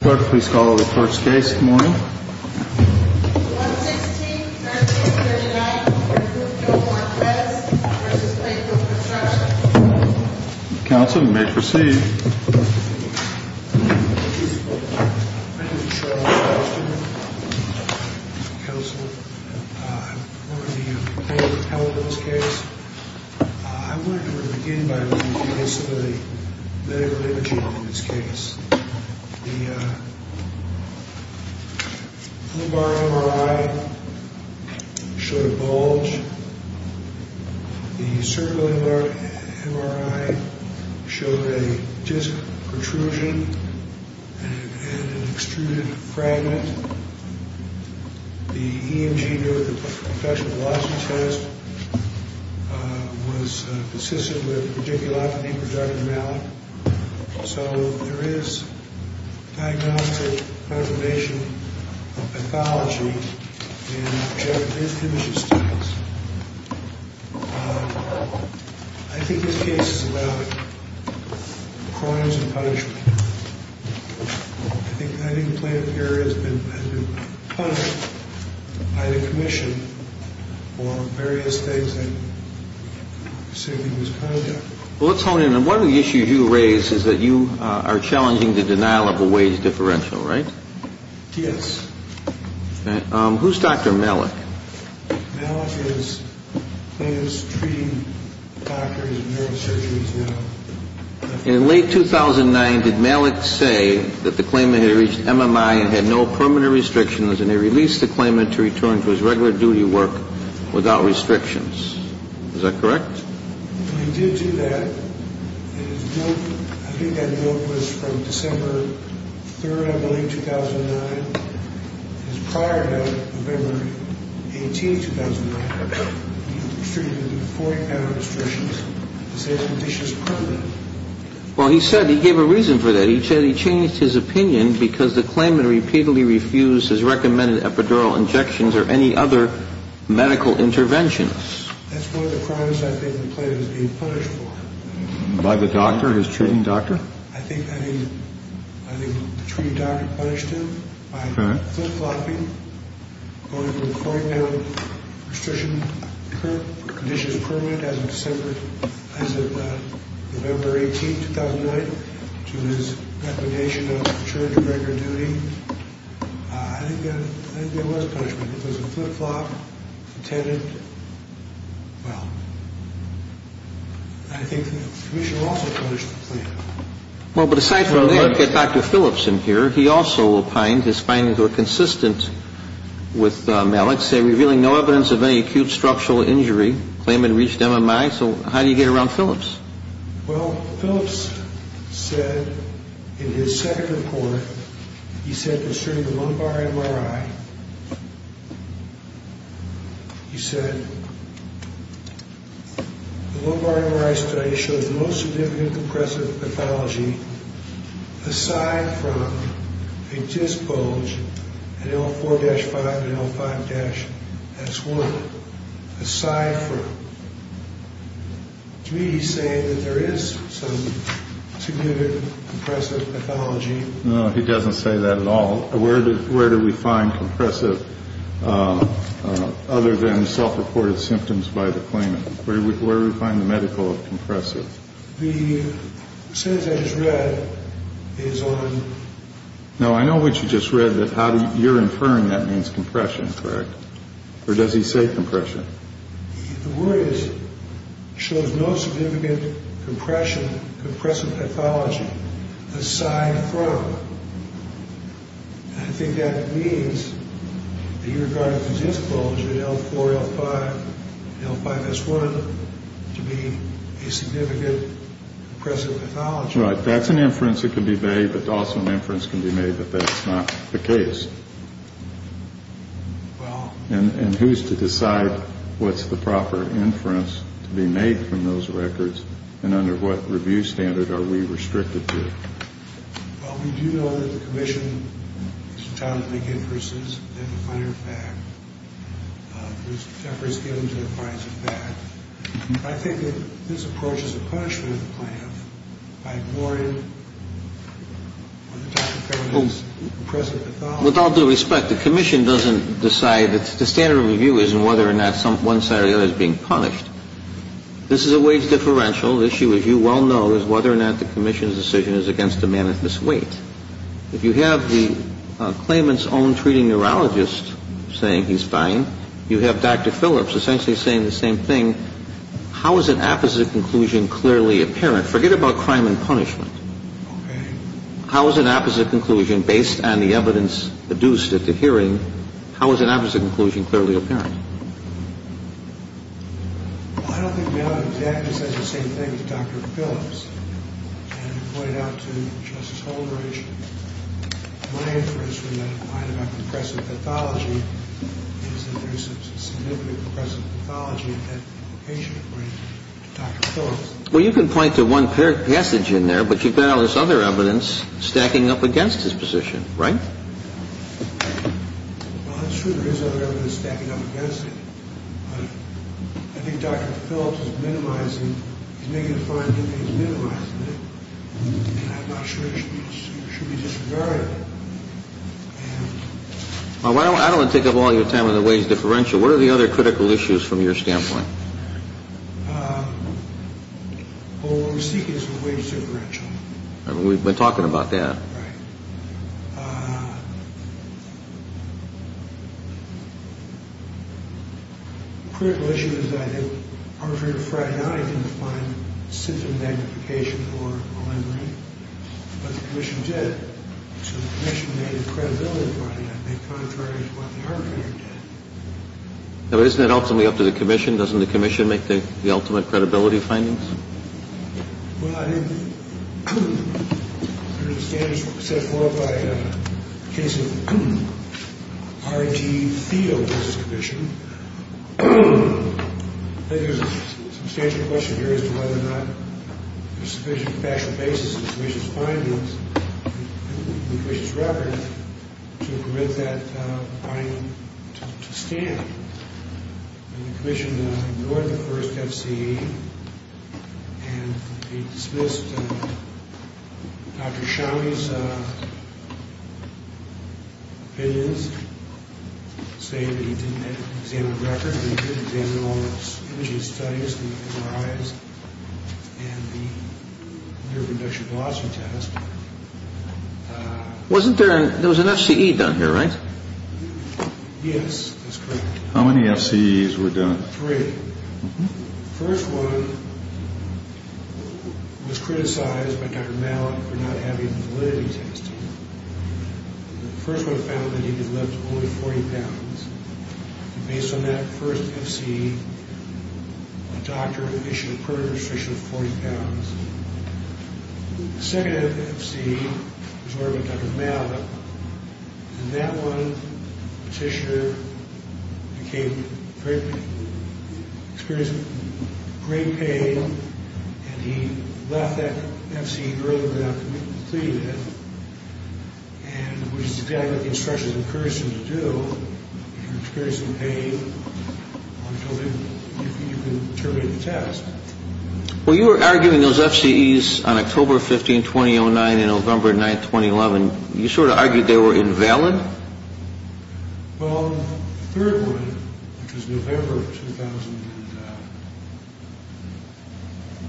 Clerk, please call the first case this morning. 116-1339 for Group No. 1, Pez v. Plainfield Construction. Counsel may proceed. Thank you, Mr. Clerk. My name is Charles Austin. I'm the counsel. I'm going to be the plaintiff in this case. I wanted to begin by looking at the case of the early Virginia case. The lumbar MRI showed a bulge. The cervical MRI showed a disc protrusion and an extruded fragment. The EMG, or the Infection Velocity Test, was persistent with radiculopathy, so there is diagnostic confirmation of pathology. I think this case is about crimes and punishment. I think the plaintiff here has been punished by the commission for various things. Let's hone in. One of the issues you raise is that you are challenging the denial of a wage differential, right? Yes. Who's Dr. Malik? Malik is treating doctors and neurosurgeons now. In late 2009, did Malik say that the claimant had reached MMI and had no permanent restrictions and he released the claimant to return to his regular duty work without restrictions? Is that correct? He did do that. I think that note was from December 3rd, I believe, 2009. It was prior to November 18th, 2009. He was treated with 40-pound restrictions to save conditions permanent. Well, he said he gave a reason for that. He said he changed his opinion because the claimant repeatedly refused his recommended epidural injections or any other medical interventions. That's one of the crimes I think the plaintiff is being punished for. By the doctor, his treating doctor? I think the treating doctor punished him by flip-flopping, going from 40-pound restrictions, conditions permanent as of November 18th, 2009, to his recommendation of returning to regular duty. I think there was punishment. It was a flip-flop, intended. Well, I think the commissioner also punished the claimant. Well, but aside from that, we've got Dr. Philipson here. He also opined his findings were consistent with Malik's. They're revealing no evidence of any acute structural injury. The claimant reached MMI, so how do you get around Philips? Well, Philips said in his second report, he said concerning the lumbar MRI, he said, the lumbar MRI study showed the most significant compressive pathology aside from a disc bulge in L4-5 and L5-S1. Aside from me saying that there is some significant compressive pathology. No, he doesn't say that at all. Where do we find compressive other than self-reported symptoms by the claimant? Where do we find the medical of compressive? The sentence I just read is on. No, I know what you just read, that you're inferring that means compression, correct? Or does he say compression? The word is, shows no significant compression, compressive pathology aside from. I think that means that he regarded the disc bulge in L4, L5, L5-S1 to be a significant compressive pathology. Right, that's an inference that can be made, but also an inference can be made that that's not the case. Well. And who's to decide what's the proper inference to be made from those records and under what review standard are we restricted to? Well, we do know that the commission is entitled to make inferences, and, as a matter of fact, Mr. Tepper has given to the fines of that. I think that this approach is a punishment of the claimant by ignoring what Dr. Tepper calls compressive pathology. Well, with all due respect, the commission doesn't decide. The standard of review isn't whether or not one side or the other is being punished. This is a wage differential. The issue, as you well know, is whether or not the commission's decision is against a man at this weight. If you have the claimant's own treating neurologist saying he's fine, you have Dr. Phillips essentially saying the same thing. Forget about crime and punishment. Okay. How is an opposite conclusion, based on the evidence produced at the hearing, how is an opposite conclusion clearly apparent? Well, I don't think we have an exact answer to the same thing as Dr. Phillips. And I pointed out to Justice Holdren, my inference from that, and mine about compressive pathology, is that there is a significant compressive pathology in that patient according to Dr. Phillips. Well, you can point to one passage in there, but you've got all this other evidence stacking up against his position, right? Well, that's true. There is other evidence stacking up against his position. I think Dr. Phillips is minimizing. He's making a fine thing, but he's minimizing it. And I'm not sure it should be disavowed. Well, I don't want to take up all your time on the wage differential. What are the other critical issues from your standpoint? What we're seeking is a wage differential. We've been talking about that. Right. The critical issue is that I think Arthur Friedan didn't find symptom magnification or alignment, but the commission did. So the commission made a credibility finding, I think, contrary to what the arbitrator did. Now, isn't that ultimately up to the commission? Doesn't the commission make the ultimate credibility findings? Well, I think there are standards set forth by the case of R.G. Thiel versus the commission. I think there's a substantial question here as to whether or not there's sufficient factual basis in the commission's findings and the commission's record to permit that finding to stand. The commission ignored the first F.C.E. and it dismissed Dr. Shawi's opinions, saying that he didn't examine the record, but he did examine all the imaging studies, the MRIs, and the near-conduction velocity test. Wasn't there an – there was an F.C.E. done here, right? Yes, that's correct. How many F.C.E.s were done? Three. The first one was criticized by Dr. Mallett for not having validity testing. The first one found that he could lift only 40 pounds. Based on that first F.C.E., the doctor issued a perjury restriction of 40 pounds. The second F.C.E. was ordered by Dr. Mallett, and that one petitioner became very – experienced great pain and he left that F.C.E. early without completing it, and it was exactly what the instructions encouraged him to do. If you're experiencing pain, you can terminate the test. Well, you were arguing those F.C.E.s on October 15, 2009, and November 9, 2011. You sort of argued they were invalid? Well, the third one, which was November of 2009,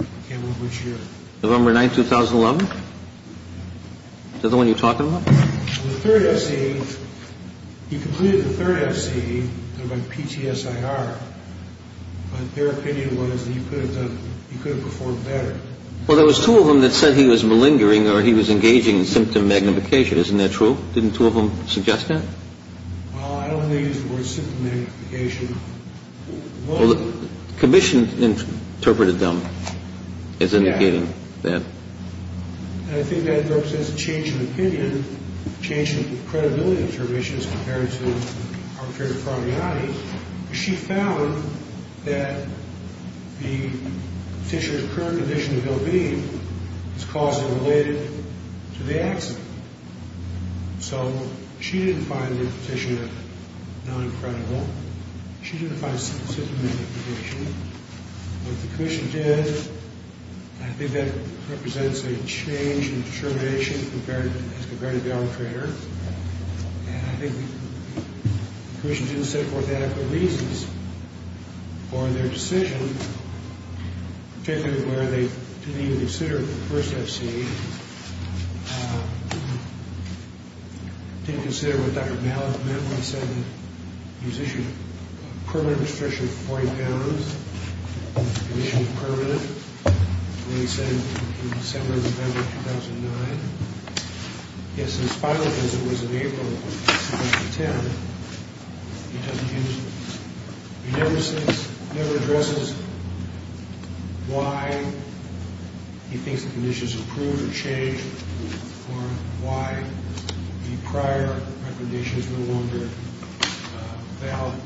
I can't remember which year. November 9, 2011? Is that the one you're talking about? The third F.C.E. – he completed the third F.C.E. by PTSIR, but their opinion was that he could have performed better. Well, there was two of them that said he was malingering or he was engaging in symptom magnification. Isn't that true? Didn't two of them suggest that? Well, I don't think they used the word symptom magnification. Well, the commission interpreted them as indicating that. And I think that represents a change in opinion, a change in credibility of determinations compared to arbitrary probability. She found that the petitioner's current condition of ill-being is caused and related to the accident. So she didn't find the petitioner non-credible. She didn't find symptom magnification. What the commission did, I think that represents a change in determination as compared to the arbitrator. And I think the commission didn't set forth adequate reasons for their decision, particularly where they didn't even consider the first F.C.E. They didn't consider what Dr. Malin said, that he was issued a permanent restriction of 40 pounds, the commission's permanent, released in December, November 2009. Yes, his final visit was in April 2010. He doesn't use it. He never says, never addresses why he thinks the condition is approved or changed or why the prior recommendation is no longer valid.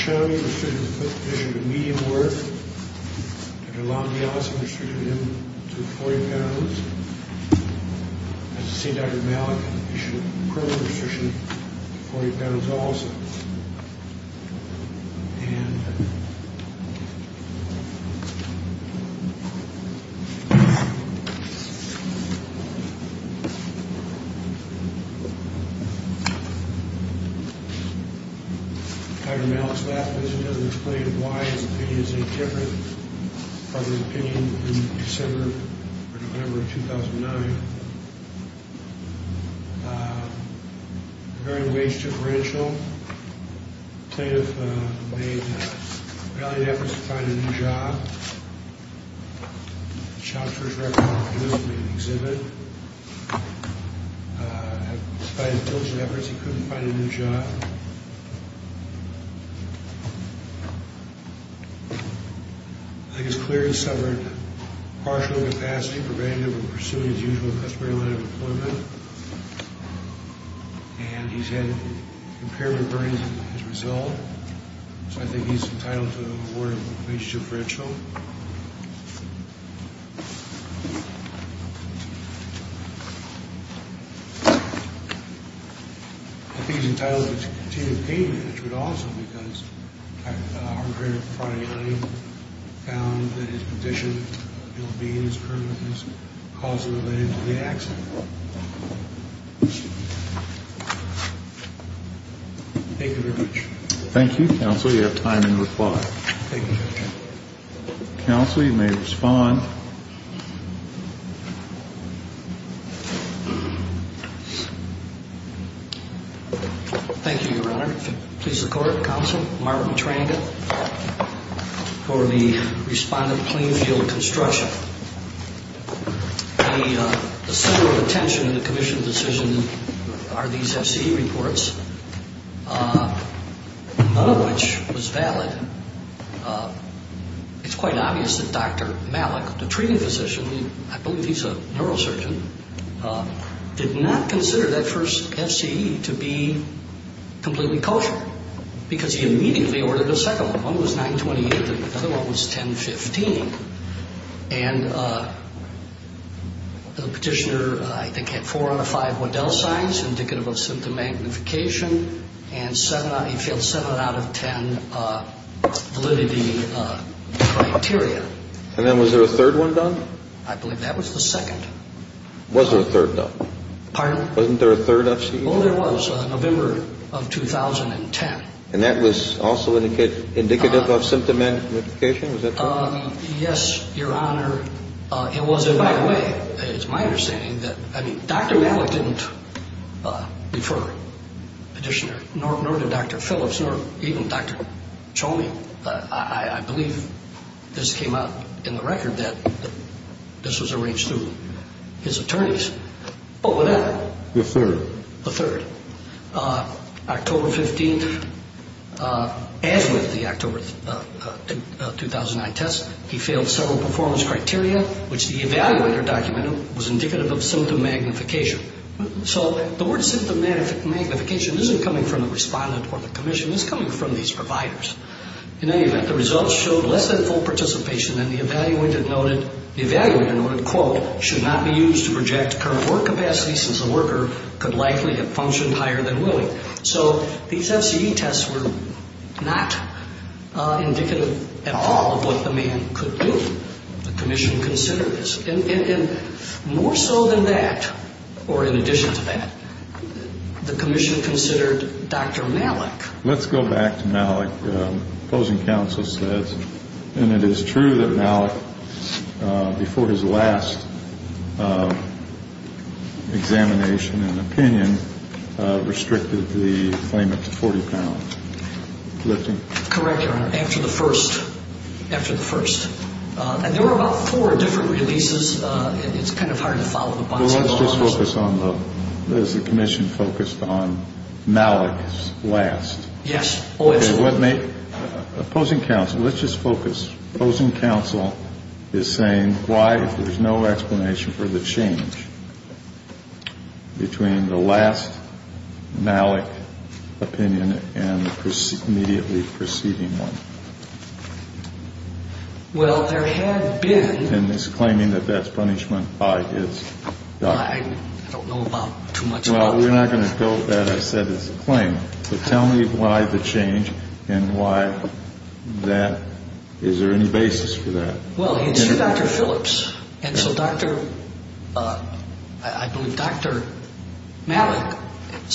Dr. Showney was issued a median worth. Dr. Lombi also restricted him to 40 pounds. As I said, Dr. Malin issued a permanent restriction of 40 pounds also. And Dr. Malin's last visit doesn't explain why his opinion is any different from the opinion in December or November 2009. Regarding the wage differential, plaintiff made valiant efforts to find a new job. He shopped for his record on a booth and made an exhibit. Despite his diligent efforts, he couldn't find a new job. I think it's clear he suffered partial incapacity when pursuing his usual respiratory line of employment. And he's had impairment burdens as a result. So I think he's entitled to an award of wage differential. I think he's entitled to continued payment, which would also, because I heard Friday night he found that his condition, ill-being, his criminal case, caused him to let into the accident. Thank you very much. Thank you, counsel. You have time to reply. Thank you, Judge. Thank you, Your Honor. If it pleases the court, counsel, Mark Matranda for the respondent, Plainfield Construction. The center of attention in the commission's decision are these FCE reports, none of which was valid. It's quite obvious that Dr. Malin, the treating physician, I believe he's a neurosurgeon, did not consider that first FCE to be completely kosher because he immediately ordered a second one. One was 928, the other one was 1015. And the petitioner, I think, had four out of five Waddell signs indicative of symptom magnification, and he failed seven out of ten validity criteria. And then was there a third one done? I believe that was the second. Was there a third, though? Pardon? Wasn't there a third FCE? Oh, there was, November of 2010. And that was also indicative of symptom magnification? Was that correct? Yes, Your Honor. It was, and by the way, it's my understanding that, I mean, Dr. Malin didn't refer the petitioner, nor did Dr. Phillips, nor even Dr. Chomey. I believe this came out in the record that this was arranged through his attorneys. Oh, what happened? The third. The third. October 15th, as with the October 2009 test, he failed several performance criteria, which the evaluator documented was indicative of symptom magnification. So the word symptom magnification isn't coming from the respondent or the commission. It's coming from these providers. In any event, the results showed less than full participation and the evaluator noted, quote, should not be used to project current work capacity since the worker could likely have functioned higher than willing. So these FCE tests were not indicative at all of what the man could do. The commission considered this. And more so than that, or in addition to that, the commission considered Dr. Malik. Let's go back to Malik. Opposing counsel says, and it is true that Malik, before his last examination and opinion, restricted the claimant to 40 pounds. Correct, Your Honor. After the first. After the first. It's kind of hard to follow up on. Well, let's just focus on the, as the commission focused on Malik's last. Yes. Opposing counsel, let's just focus. Opposing counsel is saying why, if there's no explanation for the change between the last Malik opinion and the immediately preceding one. Well, there had been. And it's claiming that that's punishment by his doctor. I don't know about too much. Well, we're not going to doubt that. I said it's a claim. But tell me why the change and why that, is there any basis for that? Well, it's through Dr. Phillips. And so Dr., I believe Dr. Malik had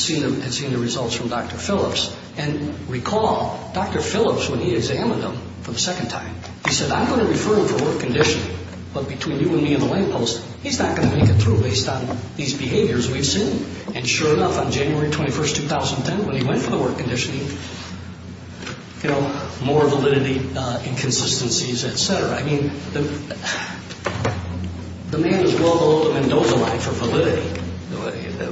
seen the results from Dr. Phillips. And recall, Dr. Phillips, when he examined him for the second time, he said, I'm going to refer him for work conditioning. But between you and me and the lamppost, he's not going to make it through based on these behaviors we've seen. And sure enough, on January 21, 2010, when he went for the work conditioning, you know, more validity, inconsistencies, et cetera. I mean, the man is well below the Mendoza line for validity.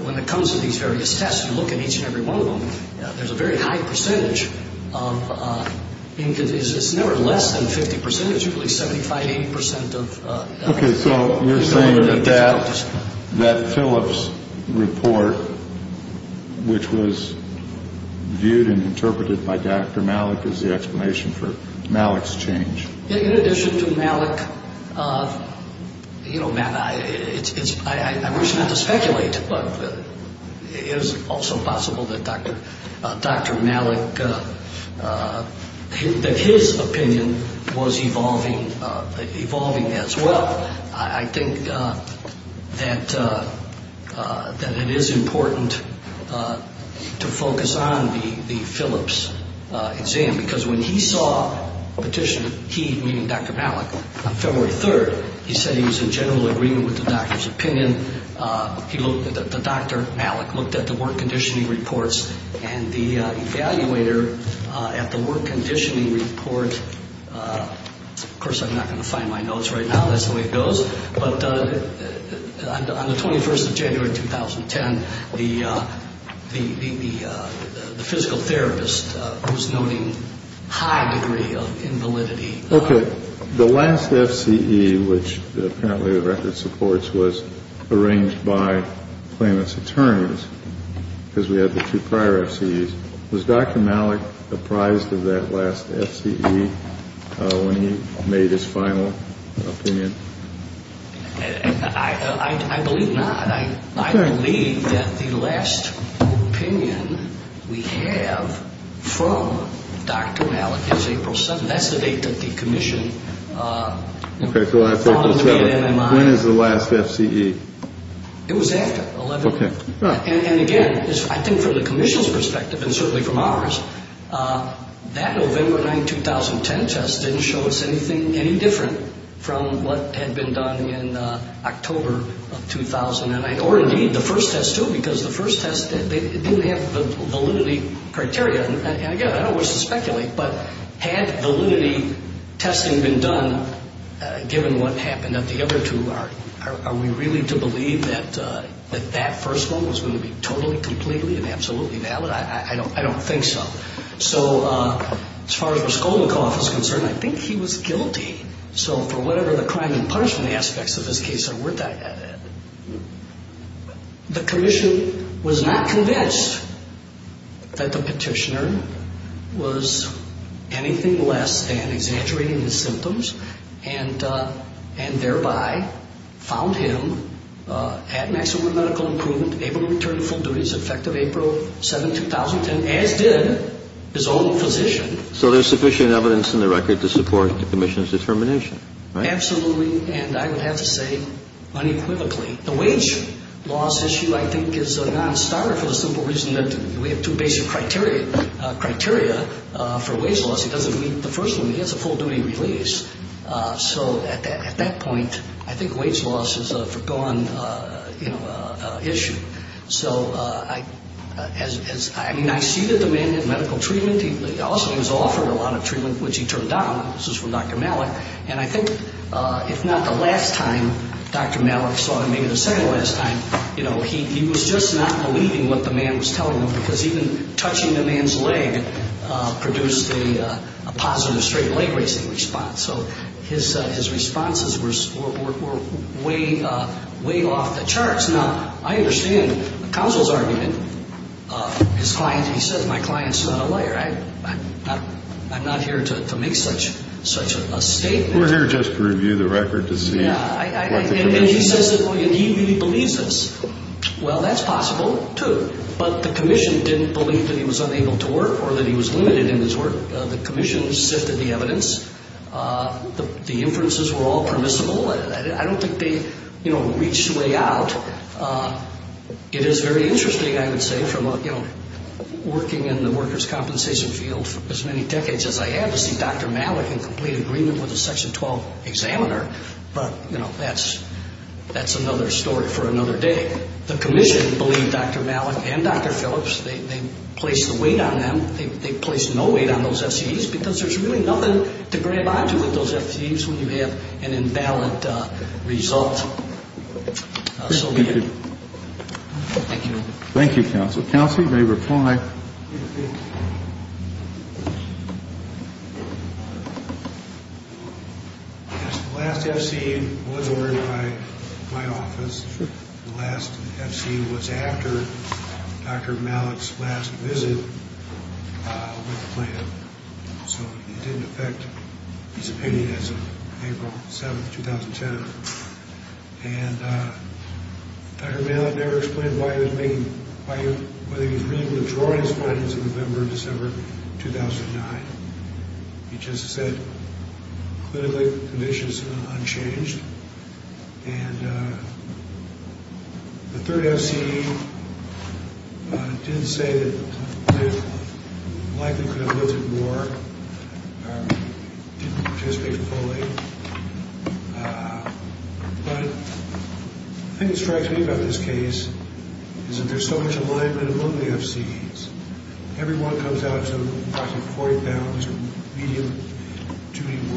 When it comes to these various tests, you look at each and every one of them, there's a very high percentage of inconsistencies. It's never less than 50%. It's usually 75%, 80% of inconsistencies. Okay, so you're saying that that Phillips report, which was viewed and interpreted by Dr. Malik, is the explanation for Malik's change. In addition to Malik, you know, Matt, I wish not to speculate, but it is also possible that Dr. Malik, that his opinion was evolving as well. I think that it is important to focus on the Phillips exam, because when he saw a petition, he, meaning Dr. Malik, on February 3rd, he said he was in general agreement with the doctor's opinion. The doctor, Malik, looked at the work conditioning reports and the evaluator at the work conditioning report, of course I'm not going to find my notes right now, that's the way it goes, but on the 21st of January 2010, the physical therapist was noting high degree of invalidity. Okay, the last FCE, which apparently the record supports, was arranged by claimant's attorneys, because we had the two prior FCEs. Was Dr. Malik apprised of that last FCE when he made his final opinion? I believe not. I believe that the last opinion we have from Dr. Malik is April 7th. That's the date that the commission followed the NMI. When is the last FCE? It was after 11th. And again, I think from the commission's perspective, and certainly from ours, that November 9, 2010 test didn't show us anything any different from what had been done in October of 2009, or indeed the first test too, because the first test didn't have validity criteria. And again, I don't wish to speculate, but had validity testing been done, given what happened at the other two, are we really to believe that that first one was going to be totally, completely, and absolutely valid? I don't think so. So as far as Raskolnikov is concerned, I think he was guilty. So for whatever the crime and punishment aspects of this case are worth, the commission was not convinced that the petitioner was anything less than exaggerating his symptoms and thereby found him at maximum medical improvement, able to return to full duties effective April 7, 2010, as did his own physician. So there's sufficient evidence in the record to support the commission's determination, right? Absolutely, and I would have to say unequivocally. The wage loss issue, I think, is a non-starter for the simple reason that we have two basic criteria for wage loss. It doesn't meet the first one. It gets a full-duty release. So at that point, I think wage loss is a forgone issue. So I mean, I see that the man had medical treatment. He also was offered a lot of treatment, which he turned down. This is from Dr. Malik. And I think, if not the last time Dr. Malik saw him, maybe the second-to-last time, he was just not believing what the man was telling him, because even touching the man's leg produced a positive straight leg-raising response. So his responses were way off the charts. Now, I understand the counsel's argument. His client, he said, my client's not a liar. I'm not here to make such a statement. We're here just to review the record to see what the commission says. Yeah, and he says that he believes this. Well, that's possible too. But the commission didn't believe that he was unable to work or that he was limited in his work. The commission sifted the evidence. The inferences were all permissible. I don't think they, you know, reached a way out. It is very interesting, I would say, from, you know, working in the workers' compensation field for as many decades as I have, to see Dr. Malik in complete agreement with a Section 12 examiner. But, you know, that's another story for another day. The commission believed Dr. Malik and Dr. Phillips. They placed the weight on them. They placed no weight on those FCEs because there's really nothing to grab onto with those FCEs when you have an invalid result. Thank you. Thank you. Thank you, counsel. Counsel, you may reply. Yes, the last FCE was ordered by my office. The last FCE was after Dr. Malik's last visit with the plant. So it didn't affect his opinion as of April 7, 2010. And Dr. Malik never explained why he was making, whether he was reading the majority's findings in November and December 2009. He just said, clinically, the condition is unchanged. And the third FCE did say that it likely could have lifted more. It didn't participate fully. But the thing that strikes me about this case is that there's so much alignment among the FCEs. Every one comes out to approximately 40 pounds or medium duty work.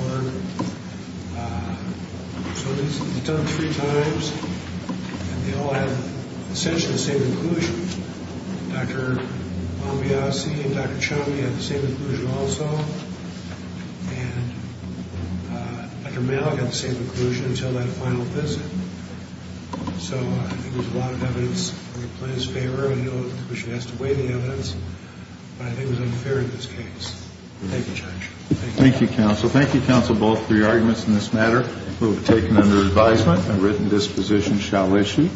So it's done three times. And they all have essentially the same inclusion. Dr. Mombiasi and Dr. Chami had the same inclusion also. And Dr. Malik had the same inclusion until that final visit. So there was a lot of evidence that he played his favor. I know that the commission has to weigh the evidence. But I think it was unfair in this case. Thank you, Judge. Thank you, counsel. Thank you, counsel, both for your arguments in this matter. It will be taken under advisement. A written disposition shall issue.